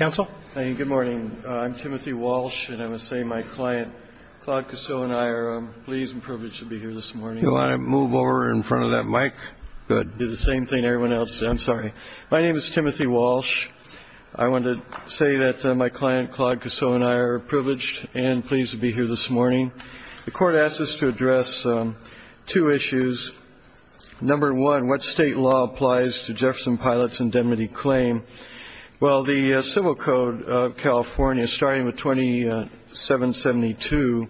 I'm Timothy Walsh, and I want to say that my client, Claude Cossu, and I are pleased and privileged to be here this morning. You want to move over in front of that mic? Good. Do the same thing everyone else. I'm sorry. My name is Timothy Walsh. I want to say that my client, Claude Cossu, and I are privileged and pleased to be here this morning. The Court asked us to address two issues. Number one, what state law applies to Jefferson Pilot's indemnity claim? Well, the Civil Code of California, starting with 2772,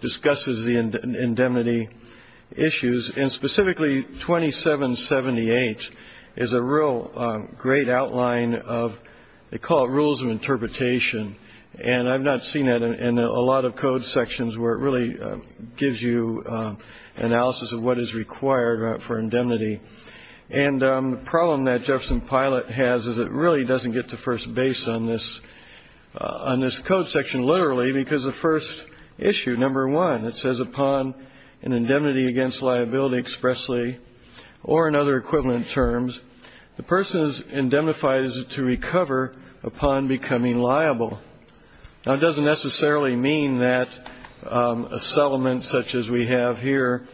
discusses the indemnity issues, and specifically 2778 is a real great outline of what they call rules of interpretation. And I've not seen that in a lot of code sections where it really gives you analysis of what is required for indemnity. And the problem that Jefferson Pilot has is it really doesn't get to first base on this code section literally, because the first issue, number one, it says, Upon an indemnity against liability expressly or in other equivalent terms, the person is indemnified as to recover upon becoming liable. Now, it doesn't necessarily mean that a settlement such as we have here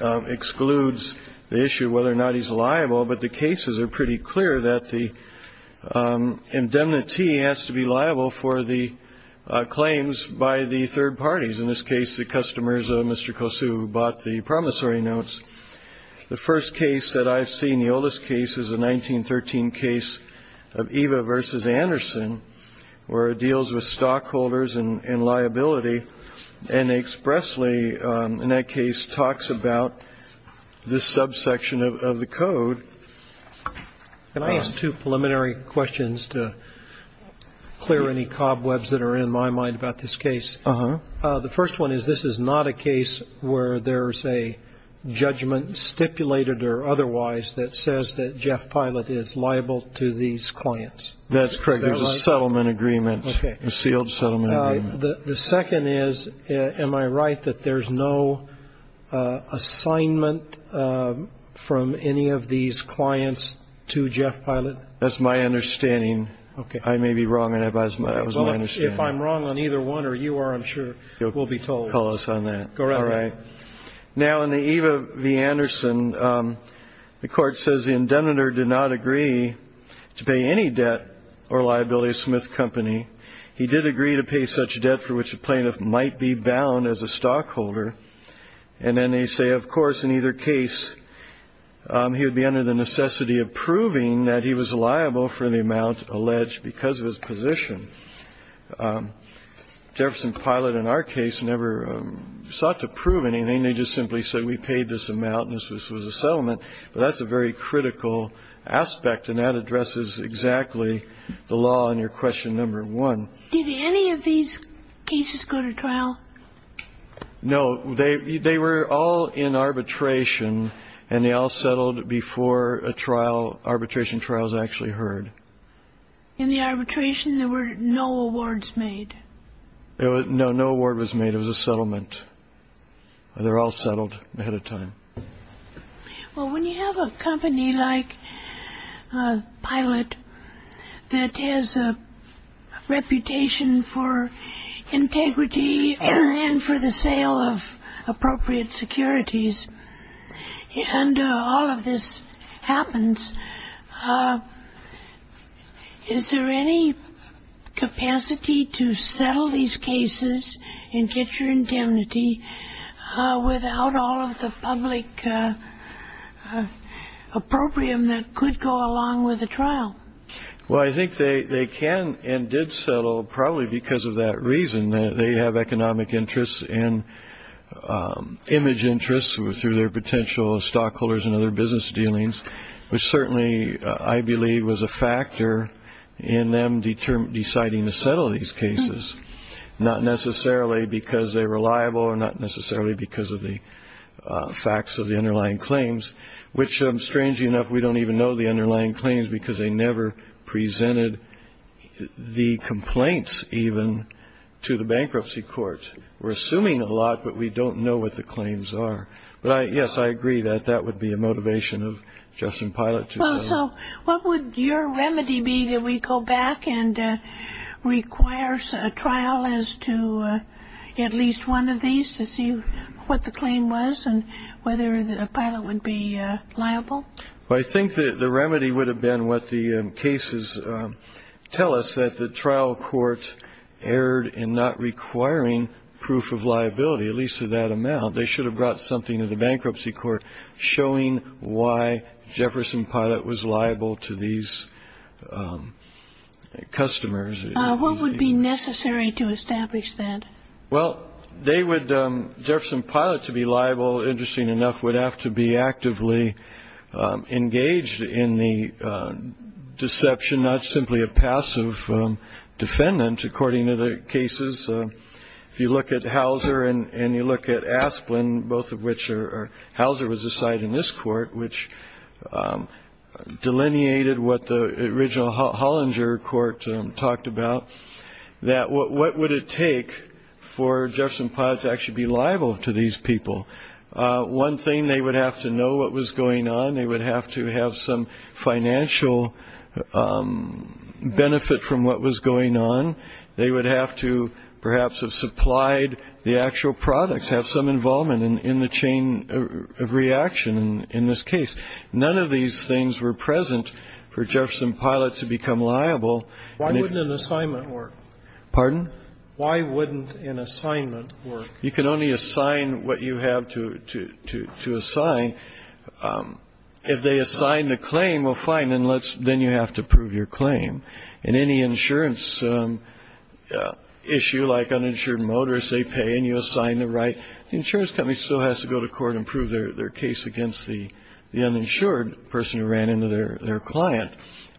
excludes the issue of whether or not he's liable, but the cases are pretty clear that the indemnity has to be liable for the claims by the third parties. In this case, the customers of Mr. Cossu bought the promissory notes. The first case that I've seen, the oldest case, is a 1913 case of Eva v. Anderson, where it deals with stockholders and liability, and expressly in that case talks about this subsection of the code. Can I ask two preliminary questions to clear any cobwebs that are in my mind about this case? Uh-huh. The first one is this is not a case where there's a judgment, stipulated or otherwise, that says that Jeff Pilot is liable to these clients. That's correct. There's a settlement agreement. Okay. A sealed settlement agreement. The second is, am I right that there's no assignment from any of these clients to Jeff Pilot? That's my understanding. Okay. I may be wrong, and that was my understanding. If I'm wrong on either one, or you are, I'm sure, we'll be told. You'll call us on that. Go right ahead. All right. Now, in the Eva v. Anderson, the Court says the indemnitor did not agree to pay any debt or liability of Smith Company. He did agree to pay such debt for which the plaintiff might be bound as a stockholder. And then they say, of course, in either case, he would be under the necessity of proving that he was liable for the amount alleged because of his position. Jefferson Pilot, in our case, never sought to prove anything. They just simply said, we paid this amount, and this was a settlement. But that's a very critical aspect, and that addresses exactly the law in your question number one. Did any of these cases go to trial? No. They were all in arbitration, and they all settled before arbitration trials actually heard. In the arbitration, there were no awards made? No, no award was made. It was a settlement. They were all settled ahead of time. Well, when you have a company like Pilot that has a reputation for integrity and for the sale of appropriate securities, and all of this happens, is there any capacity to settle these cases and get your indemnity without all of the public appropriate that could go along with the trial? Well, I think they can and did settle probably because of that reason. They have economic interests and image interests through their potential stockholders and other business dealings, which certainly I believe was a factor in them deciding to settle these cases, not necessarily because they're reliable or not necessarily because of the facts of the underlying claims, which, strangely enough, we don't even know the underlying claims because they never presented the complaints even to the bankruptcy court. We're assuming a lot, but we don't know what the claims are. But, yes, I agree that that would be a motivation of Justin Pilot to settle. Well, so what would your remedy be that we go back and require a trial as to at least one of these to see what the claim was and whether Pilot would be liable? Well, I think the remedy would have been what the cases tell us, that the trial court erred in not requiring proof of liability, at least to that amount. They should have brought something to the bankruptcy court showing why Jefferson Pilot was liable to these customers. What would be necessary to establish that? Well, they would ‑‑ Jefferson Pilot, to be liable, interesting enough, would have to be actively engaged in the deception, not simply a passive defendant, according to the cases. If you look at Hauser and you look at Asplen, both of which are ‑‑ Hauser was a side in this court, which delineated what the original Hollinger court talked about, that what would it take for Jefferson Pilot to actually be liable to these people? One thing, they would have to know what was going on. They would have to have some financial benefit from what was going on. They would have to perhaps have supplied the actual products, have some involvement in the chain of reaction in this case. None of these things were present for Jefferson Pilot to become liable. Why wouldn't an assignment work? Pardon? Why wouldn't an assignment work? You can only assign what you have to assign. If they assign the claim, well, fine, then let's ‑‑ then you have to prove your claim. In any insurance issue, like uninsured motorists, they pay and you assign the right. The insurance company still has to go to court and prove their case against the uninsured person who ran into their client.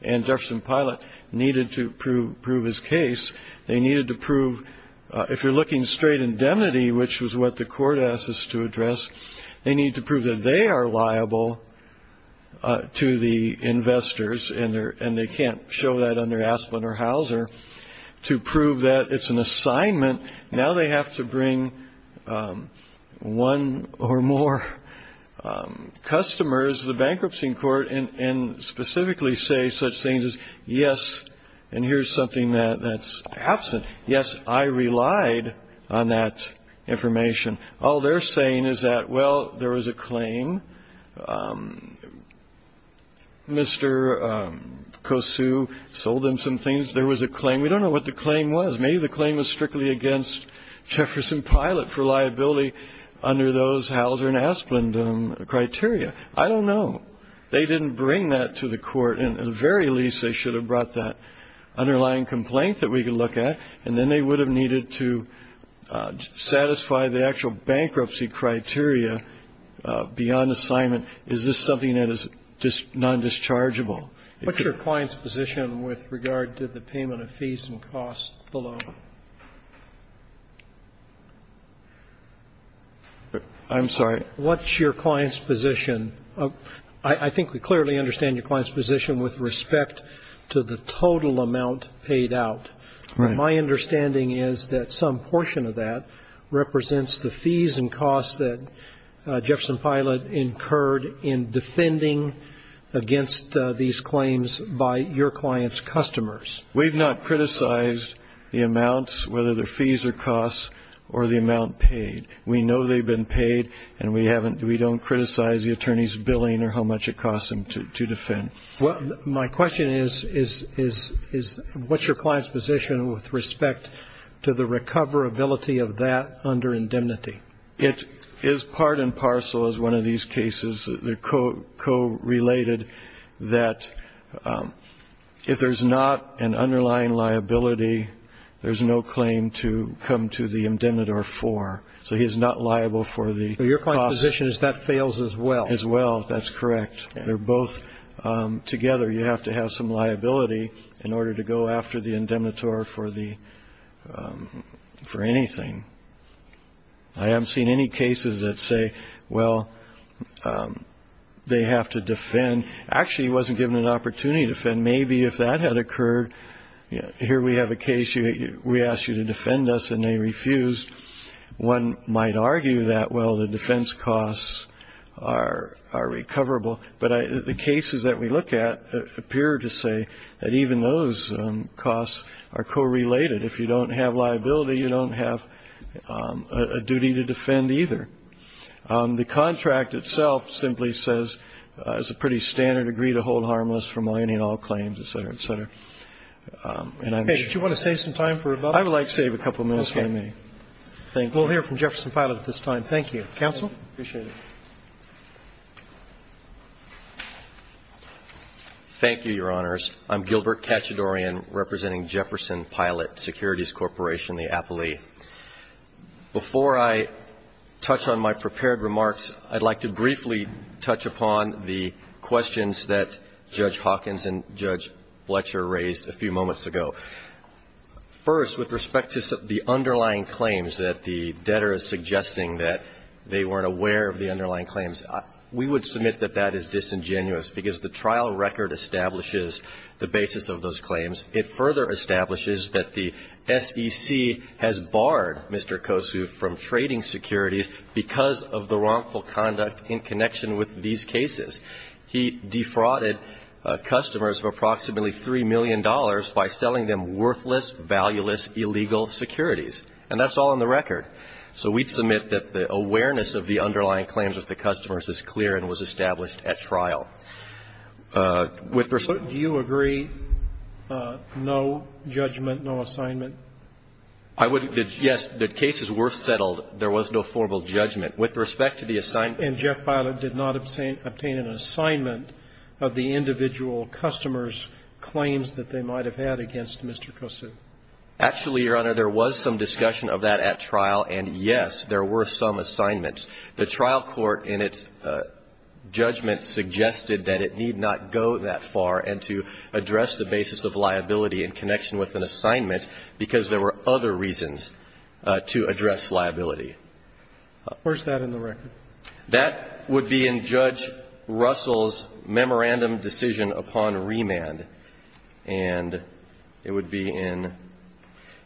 And Jefferson Pilot needed to prove his case. They needed to prove, if you're looking straight indemnity, which was what the court asked us to address, they need to prove that they are liable to the investors, and they can't show that under Asplen or Hauser, to prove that it's an assignment. Now they have to bring one or more customers to the bankruptcy court and specifically say such things as, yes, and here's something that's absent. Yes, I relied on that information. All they're saying is that, well, there was a claim. Mr. Kosu sold them some things. There was a claim. We don't know what the claim was. Maybe the claim was strictly against Jefferson Pilot for liability under those Hauser and Asplen criteria. I don't know. They didn't bring that to the court, and at the very least they should have brought that underlying complaint that we could look at, and then they would have needed to satisfy the actual bankruptcy criteria beyond assignment. Is this something that is non-dischargeable? What's your client's position with regard to the payment of fees and costs below? I'm sorry. What's your client's position? I think we clearly understand your client's position with respect to the total amount paid out. My understanding is that some portion of that represents the fees and costs that Jefferson Pilot incurred in defending against these claims by your client's customers. We've not criticized the amounts, whether they're fees or costs, or the amount paid. We know they've been paid, and we don't criticize the attorney's billing or how much it costs them to defend. Well, my question is what's your client's position with respect to the recoverability of that under indemnity? It is part and parcel as one of these cases. They're co-related that if there's not an underlying liability, there's no claim to come to the indemnitor for. So he is not liable for the costs. So your client's position is that fails as well. As well. That's correct. They're both together. You have to have some liability in order to go after the indemnitor for anything. I haven't seen any cases that say, well, they have to defend. Actually, he wasn't given an opportunity to defend. Maybe if that had occurred, here we have a case. We asked you to defend us, and they refused. One might argue that, well, the defense costs are recoverable. But the cases that we look at appear to say that even those costs are co-related. If you don't have liability, you don't have a duty to defend either. The contract itself simply says it's a pretty standard agree to hold harmless for mining all claims, et cetera, et cetera. Okay. Thank you. We'll hear from Jefferson Pilot at this time. Counsel. Thank you. Appreciate it. Thank you, Your Honors. I'm Gilbert Katchadourian, representing Jefferson Pilot Securities Corporation, the appellee. Before I touch on my prepared remarks, I'd like to briefly touch upon the questions that Judge Hawkins and Judge Fletcher raised a few moments ago. First, with respect to the underlying claims that the debtor is suggesting that they weren't aware of the underlying claims, we would submit that that is disingenuous because the trial record establishes the basis of those claims. It further establishes that the SEC has barred Mr. Kossuth from trading securities because of the wrongful conduct in connection with these cases. He defrauded customers of approximately $3 million by selling them worthless, valueless, illegal securities. And that's all on the record. So we'd submit that the awareness of the underlying claims of the customers is clear and was established at trial. With respect to the assignment of the claims. Do you agree no judgment, no assignment? I would. Yes, the cases were settled. There was no formal judgment. With respect to the assignment. And Jeff Byler did not obtain an assignment of the individual customers' claims that they might have had against Mr. Kossuth. Actually, Your Honor, there was some discussion of that at trial, and yes, there were some assignments. The trial court in its judgment suggested that it need not go that far and to address the basis of liability in connection with an assignment because there were other reasons to address liability. Where's that in the record? That would be in Judge Russell's memorandum decision upon remand, and it would be in,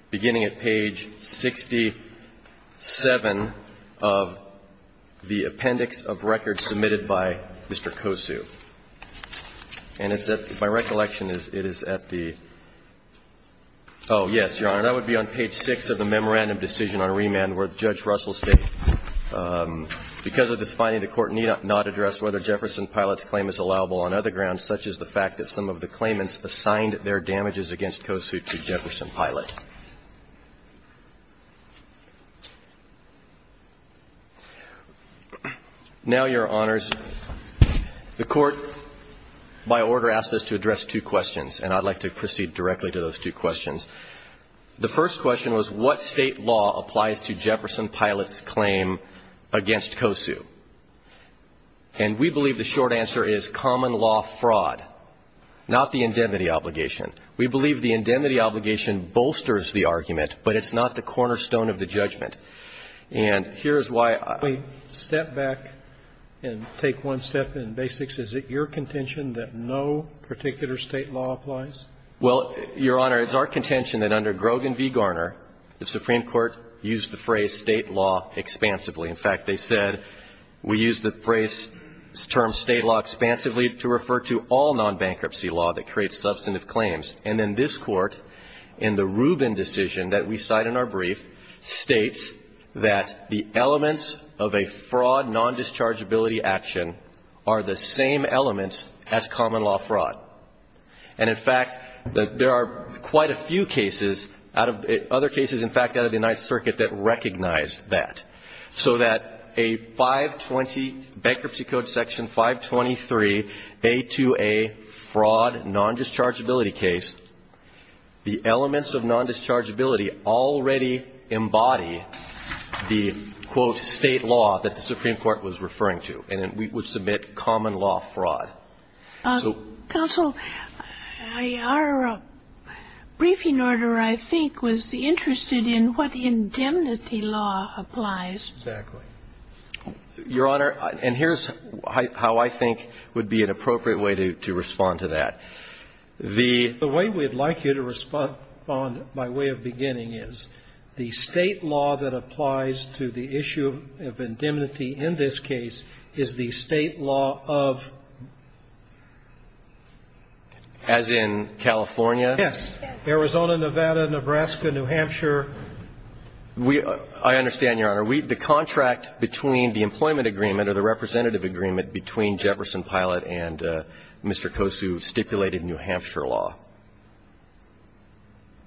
beginning at page 67 of the appendix of record submitted by Mr. Kossuth. And it's at, my recollection is, it is at the oh, yes, Your Honor, that would be on address whether Jefferson Pilot's claim is allowable on other grounds, such as the fact that some of the claimants assigned their damages against Kossuth to Jefferson Pilot. Now, Your Honors, the Court, by order, asked us to address two questions, and I'd like to proceed directly to those two questions. The first question was what State law applies to Jefferson Pilot's claim against Kossuth? And we believe the short answer is common law fraud, not the indemnity obligation. We believe the indemnity obligation bolsters the argument, but it's not the cornerstone of the judgment. And here's why I ---- We step back and take one step in basics. Is it your contention that no particular State law applies? Well, Your Honor, it's our contention that under Grogan v. Garner, the Supreme Court used the phrase State law expansively. In fact, they said we use the phrase term State law expansively to refer to all nonbankruptcy law that creates substantive claims. And then this Court, in the Rubin decision that we cite in our brief, states that the elements of a fraud nondischargeability action are the same elements as common law fraud. And, in fact, there are quite a few cases out of the ---- other cases, in fact, out of the Ninth Circuit that recognize that, so that a 520 Bankruptcy Code Section 523, a to a fraud nondischargeability case, the elements of nondischargeability already embody the, quote, State law that the Supreme Court was referring to, and then we would submit common law fraud. So ---- Counsel, our briefing order, I think, was interested in what indemnity law applies. Exactly. Your Honor, and here's how I think would be an appropriate way to respond to that. The way we'd like you to respond, by way of beginning, is the State law that applies to the issue of indemnity in this case is the State law of ---- As in California? Yes. Arizona, Nevada, Nebraska, New Hampshire. We ---- I understand, Your Honor. We ---- the contract between the employment agreement or the representative agreement between Jefferson Pilot and Mr. Kosu stipulated New Hampshire law.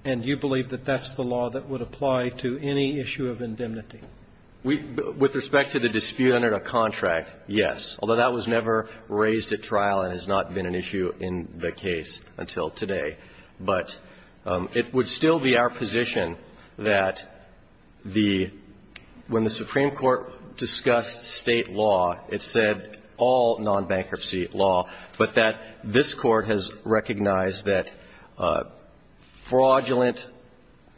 And you believe that that's the law that would apply to any issue of indemnity? We ---- with respect to the dispute under the contract, yes, although that was never raised at trial and has not been an issue in the case until today. But it would still be our position that the ---- when the Supreme Court discussed State law, it said all nonbankruptcy law, but that this Court has recognized that fraudulent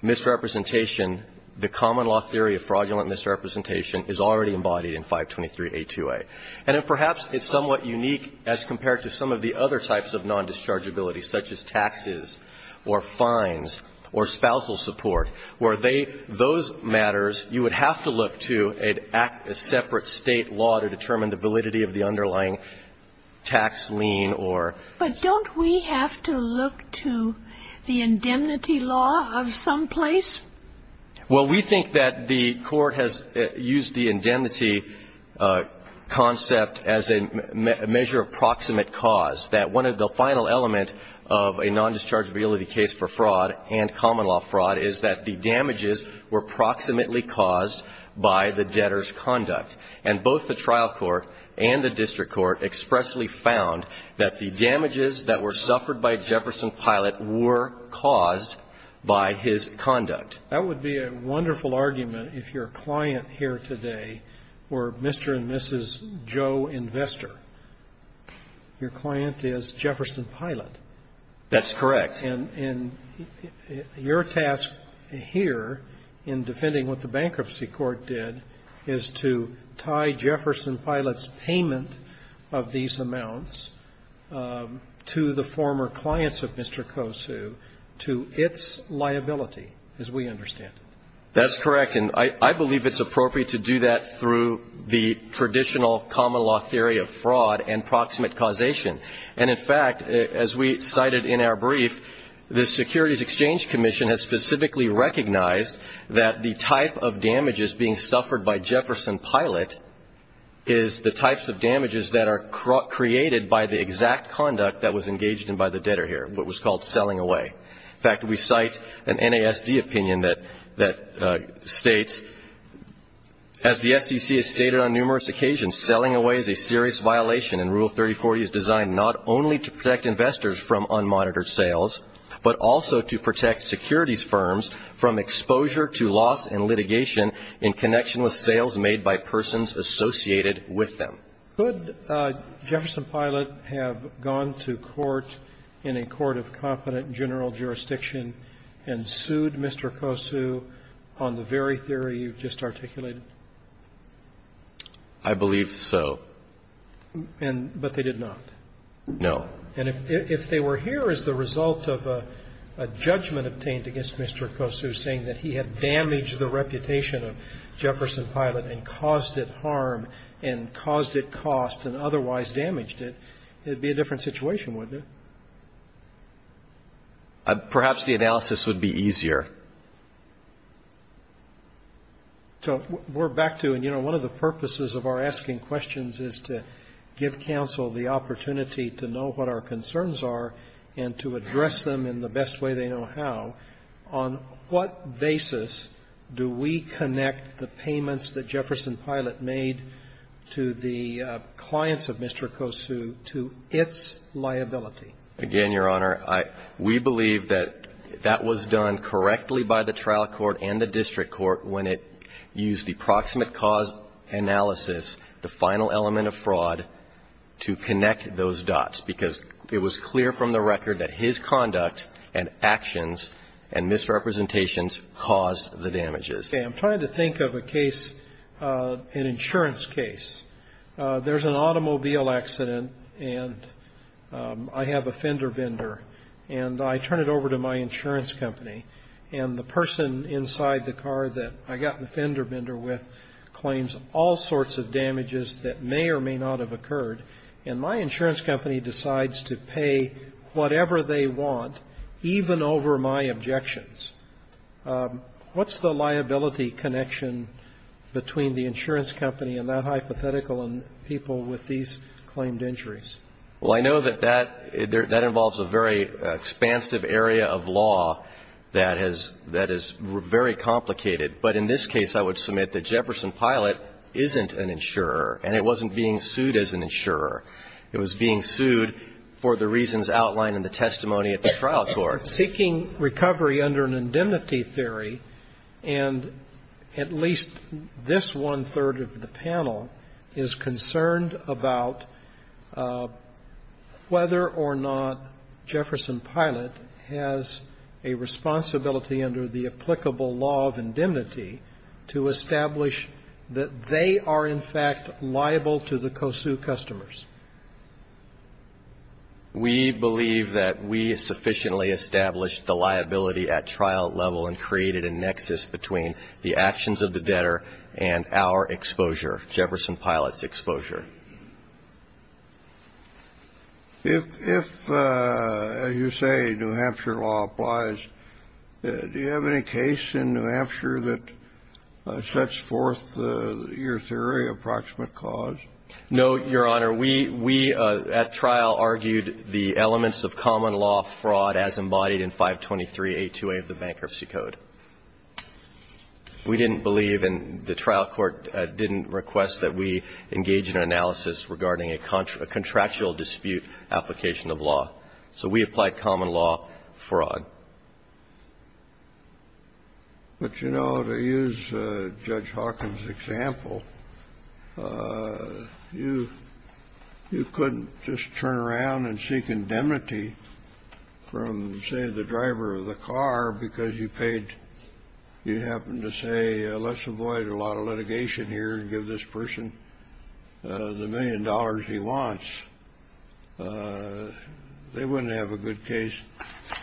misrepresentation, the common law theory of fraudulent misrepresentation, is already embodied in 523a2a. And perhaps it's somewhat unique as compared to some of the other types of nondischargeability, such as taxes or fines or spousal support, where they ---- those matters, you would have to look to a separate State law to determine the validity of the underlying tax lien or ---- But don't we have to look to the indemnity law of some place? Well, we think that the Court has used the indemnity concept as a measure of proximate cause, that one of the final element of a nondischargeability case for fraud and common law fraud is that the damages were proximately caused by the debtor's conduct. And both the trial court and the district court expressly found that the damages that were suffered by Jefferson Pilot were caused by his conduct. That would be a wonderful argument if your client here today were Mr. and Mrs. Joe Investor. Your client is Jefferson Pilot. That's correct. And your task here in defending what the bankruptcy court did is to tie Jefferson Pilot's payment of these amounts to the former clients of Mr. Kosu to its liability, as we understand it. That's correct. And I believe it's appropriate to do that through the traditional common law theory of fraud and proximate causation. And, in fact, as we cited in our brief, the Securities Exchange Commission has specifically recognized that the type of damages being suffered by Jefferson Pilot is the types of damages that are created by the exact conduct that was engaged in by the debtor here, what was called selling away. In fact, we cite an NASD opinion that states, as the SEC has stated on numerous occasions, selling away is a serious violation, and Rule 3040 is designed not only to protect investors from unmonitored sales, but also to protect securities firms from exposure to loss and litigation in connection with sales made by persons associated with them. Could Jefferson Pilot have gone to court in a court of competent general jurisdiction and sued Mr. Kosu on the very theory you've just articulated? I believe so. But they did not? No. And if they were here as the result of a judgment obtained against Mr. Kosu saying that he had damaged the reputation of Jefferson Pilot and caused it harm and caused it cost and otherwise damaged it, it would be a different situation, wouldn't Perhaps the analysis would be easier. So we're back to, and you know, one of the purposes of our asking questions is to give counsel the opportunity to know what our concerns are and to address them in the best way they know how. On what basis do we connect the payments that Jefferson Pilot made to the clients of Mr. Kosu to its liability? Again, Your Honor, we believe that that was done correctly by the trial court and the district court when it used the proximate cause analysis, the final element of fraud, to connect those dots, because it was clear from the record that his conduct and actions and misrepresentations caused the damages. I'm trying to think of a case, an insurance case. There's an automobile accident, and I have a fender bender, and I turn it over to my insurance company, and the person inside the car that I got the fender bender with claims all sorts of damages that may or may not have occurred, and my insurance company decides to pay whatever they want, even over my objections. What's the liability connection between the insurance company and that hypothetical and people with these claimed injuries? Well, I know that that involves a very expansive area of law that is very complicated. But in this case, I would submit that Jefferson Pilot isn't an insurer, and it wasn't being sued as an insurer. It was being sued for the reasons outlined in the testimony at the trial court. We are seeking recovery under an indemnity theory, and at least this one-third of the panel is concerned about whether or not Jefferson Pilot has a responsibility under the applicable law of indemnity to establish that they are, in fact, liable to the Kosu customers. We believe that we sufficiently established the liability at trial level and created a nexus between the actions of the debtor and our exposure, Jefferson Pilot's exposure. If, as you say, New Hampshire law applies, do you have any case in New Hampshire that sets forth your theory of approximate cause? No, Your Honor. We at trial argued the elements of common law fraud as embodied in 523A2A of the Bankruptcy Code. We didn't believe, and the trial court didn't request that we engage in analysis regarding a contractual dispute application of law. So we applied common law fraud. But, you know, to use Judge Hawkins' example, you couldn't just turn around and seek indemnity from, say, the driver of the car because you paid, you happened to say, let's avoid a lot of litigation here and give this person the million dollars he wants. They wouldn't have a good case.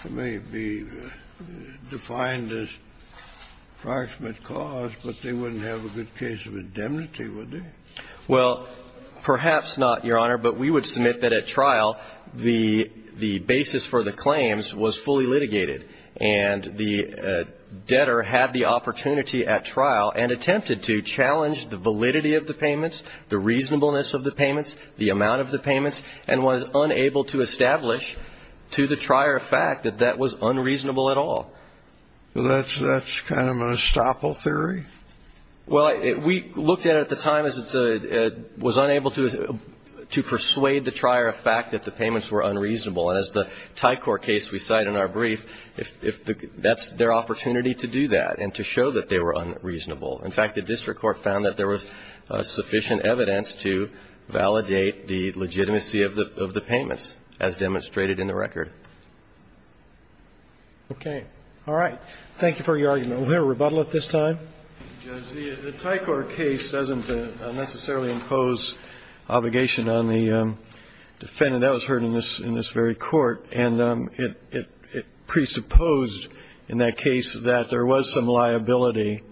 It may be defined as approximate cause, but they wouldn't have a good case of indemnity, would they? Well, perhaps not, Your Honor, but we would submit that at trial the basis for the claims was fully litigated, and the debtor had the opportunity at trial and attempted to challenge the validity of the payments, the reasonableness of the payments, the amount of the payments, and was unable to establish to the trier of fact that that was unreasonable at all. Well, that's kind of an estoppel theory? Well, we looked at it at the time as it was unable to persuade the trier of fact that the payments were unreasonable. And as the Thai Court case we cite in our brief, that's their opportunity to do that and to show that they were unreasonable. In fact, the district court found that there was sufficient evidence to validate the legitimacy of the payments as demonstrated in the record. Okay. All right. Thank you for your argument. We'll hear a rebuttal at this time. Judge, the Thai Court case doesn't necessarily impose obligation on the defendant. That was heard in this very court. And it presupposed in that case that there was some liability.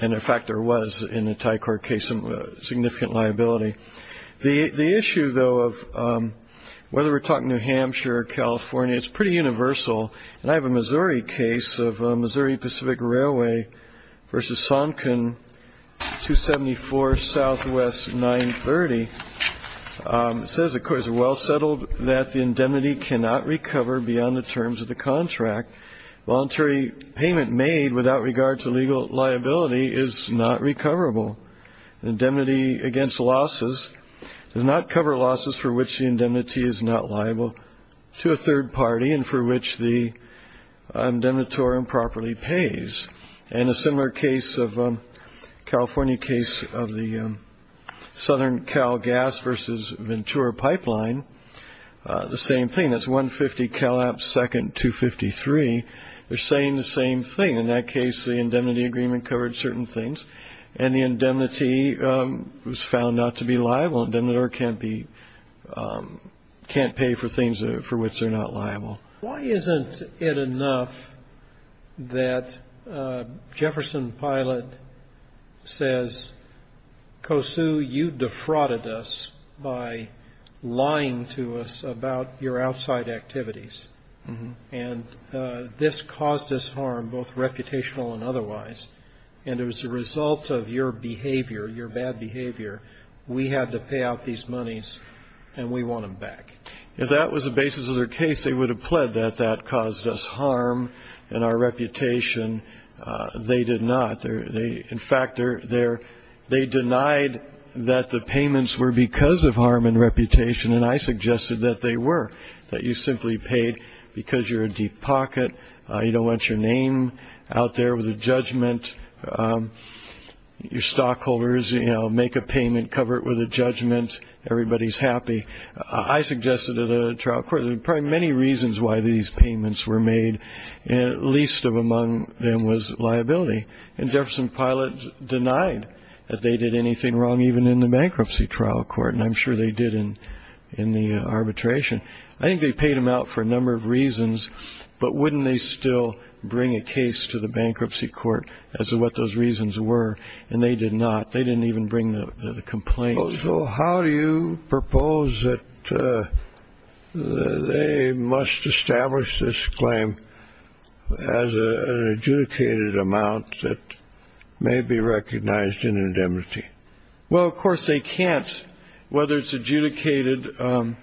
And, in fact, there was in the Thai Court case some significant liability. The issue, though, of whether we're talking New Hampshire or California, it's pretty universal. And I have a Missouri case of Missouri Pacific Railway v. Sonkin, 274 Southwest 930. It says, of course, well settled that the indemnity cannot recover beyond the terms of the contract. Voluntary payment made without regard to legal liability is not recoverable. Indemnity against losses does not cover losses for which the indemnity is not liable to a third party and for which the indemnitor improperly pays. And a similar case of a California case of the Southern Cal Gas v. Ventura Pipeline, the same thing. That's 150 Cal App Second, 253. They're saying the same thing. In that case, the indemnity agreement covered certain things. And the indemnity was found not to be liable. Indemnitor can't pay for things for which they're not liable. Why isn't it enough that Jefferson Pilot says, Kosu, you defrauded us by lying to us about your outside activities. And this caused us harm, both reputational and otherwise. And as a result of your behavior, your bad behavior, we had to pay out these monies, and we want them back. If that was the basis of their case, they would have pled that that caused us harm and our reputation. They did not. In fact, they denied that the payments were because of harm and reputation, and I suggested that they were, that you simply paid because you're a deep pocket, you don't want your name out there with a judgment, your stockholders, you know, make a payment, cover it with a judgment, everybody's happy. I suggested to the trial court, there were probably many reasons why these payments were made, and least of among them was liability. And Jefferson Pilot denied that they did anything wrong even in the bankruptcy trial court, and I'm sure they did in the arbitration. I think they paid them out for a number of reasons, but wouldn't they still bring a case to the bankruptcy court as to what those reasons were? And they did not. They didn't even bring the complaint. So how do you propose that they must establish this claim as an adjudicated amount that may be recognized in indemnity? Well, of course, they can't. Whether it's adjudicated, well,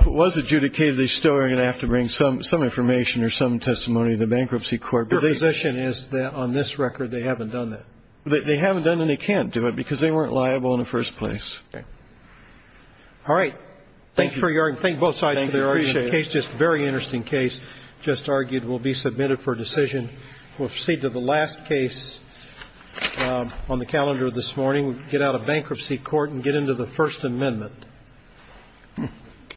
if it was adjudicated, they still are going to have to bring some information or some testimony to the bankruptcy court. Your position is that on this record they haven't done that? They haven't done it and they can't do it because they weren't liable in the first place. Okay. All right. Thank you. Thanks for your argument. Both sides of the argument. Thank you. Appreciate it. The case, just a very interesting case, just argued will be submitted for decision. We'll proceed to the last case on the calendar this morning. We'll get out of bankruptcy court and get into the First Amendment.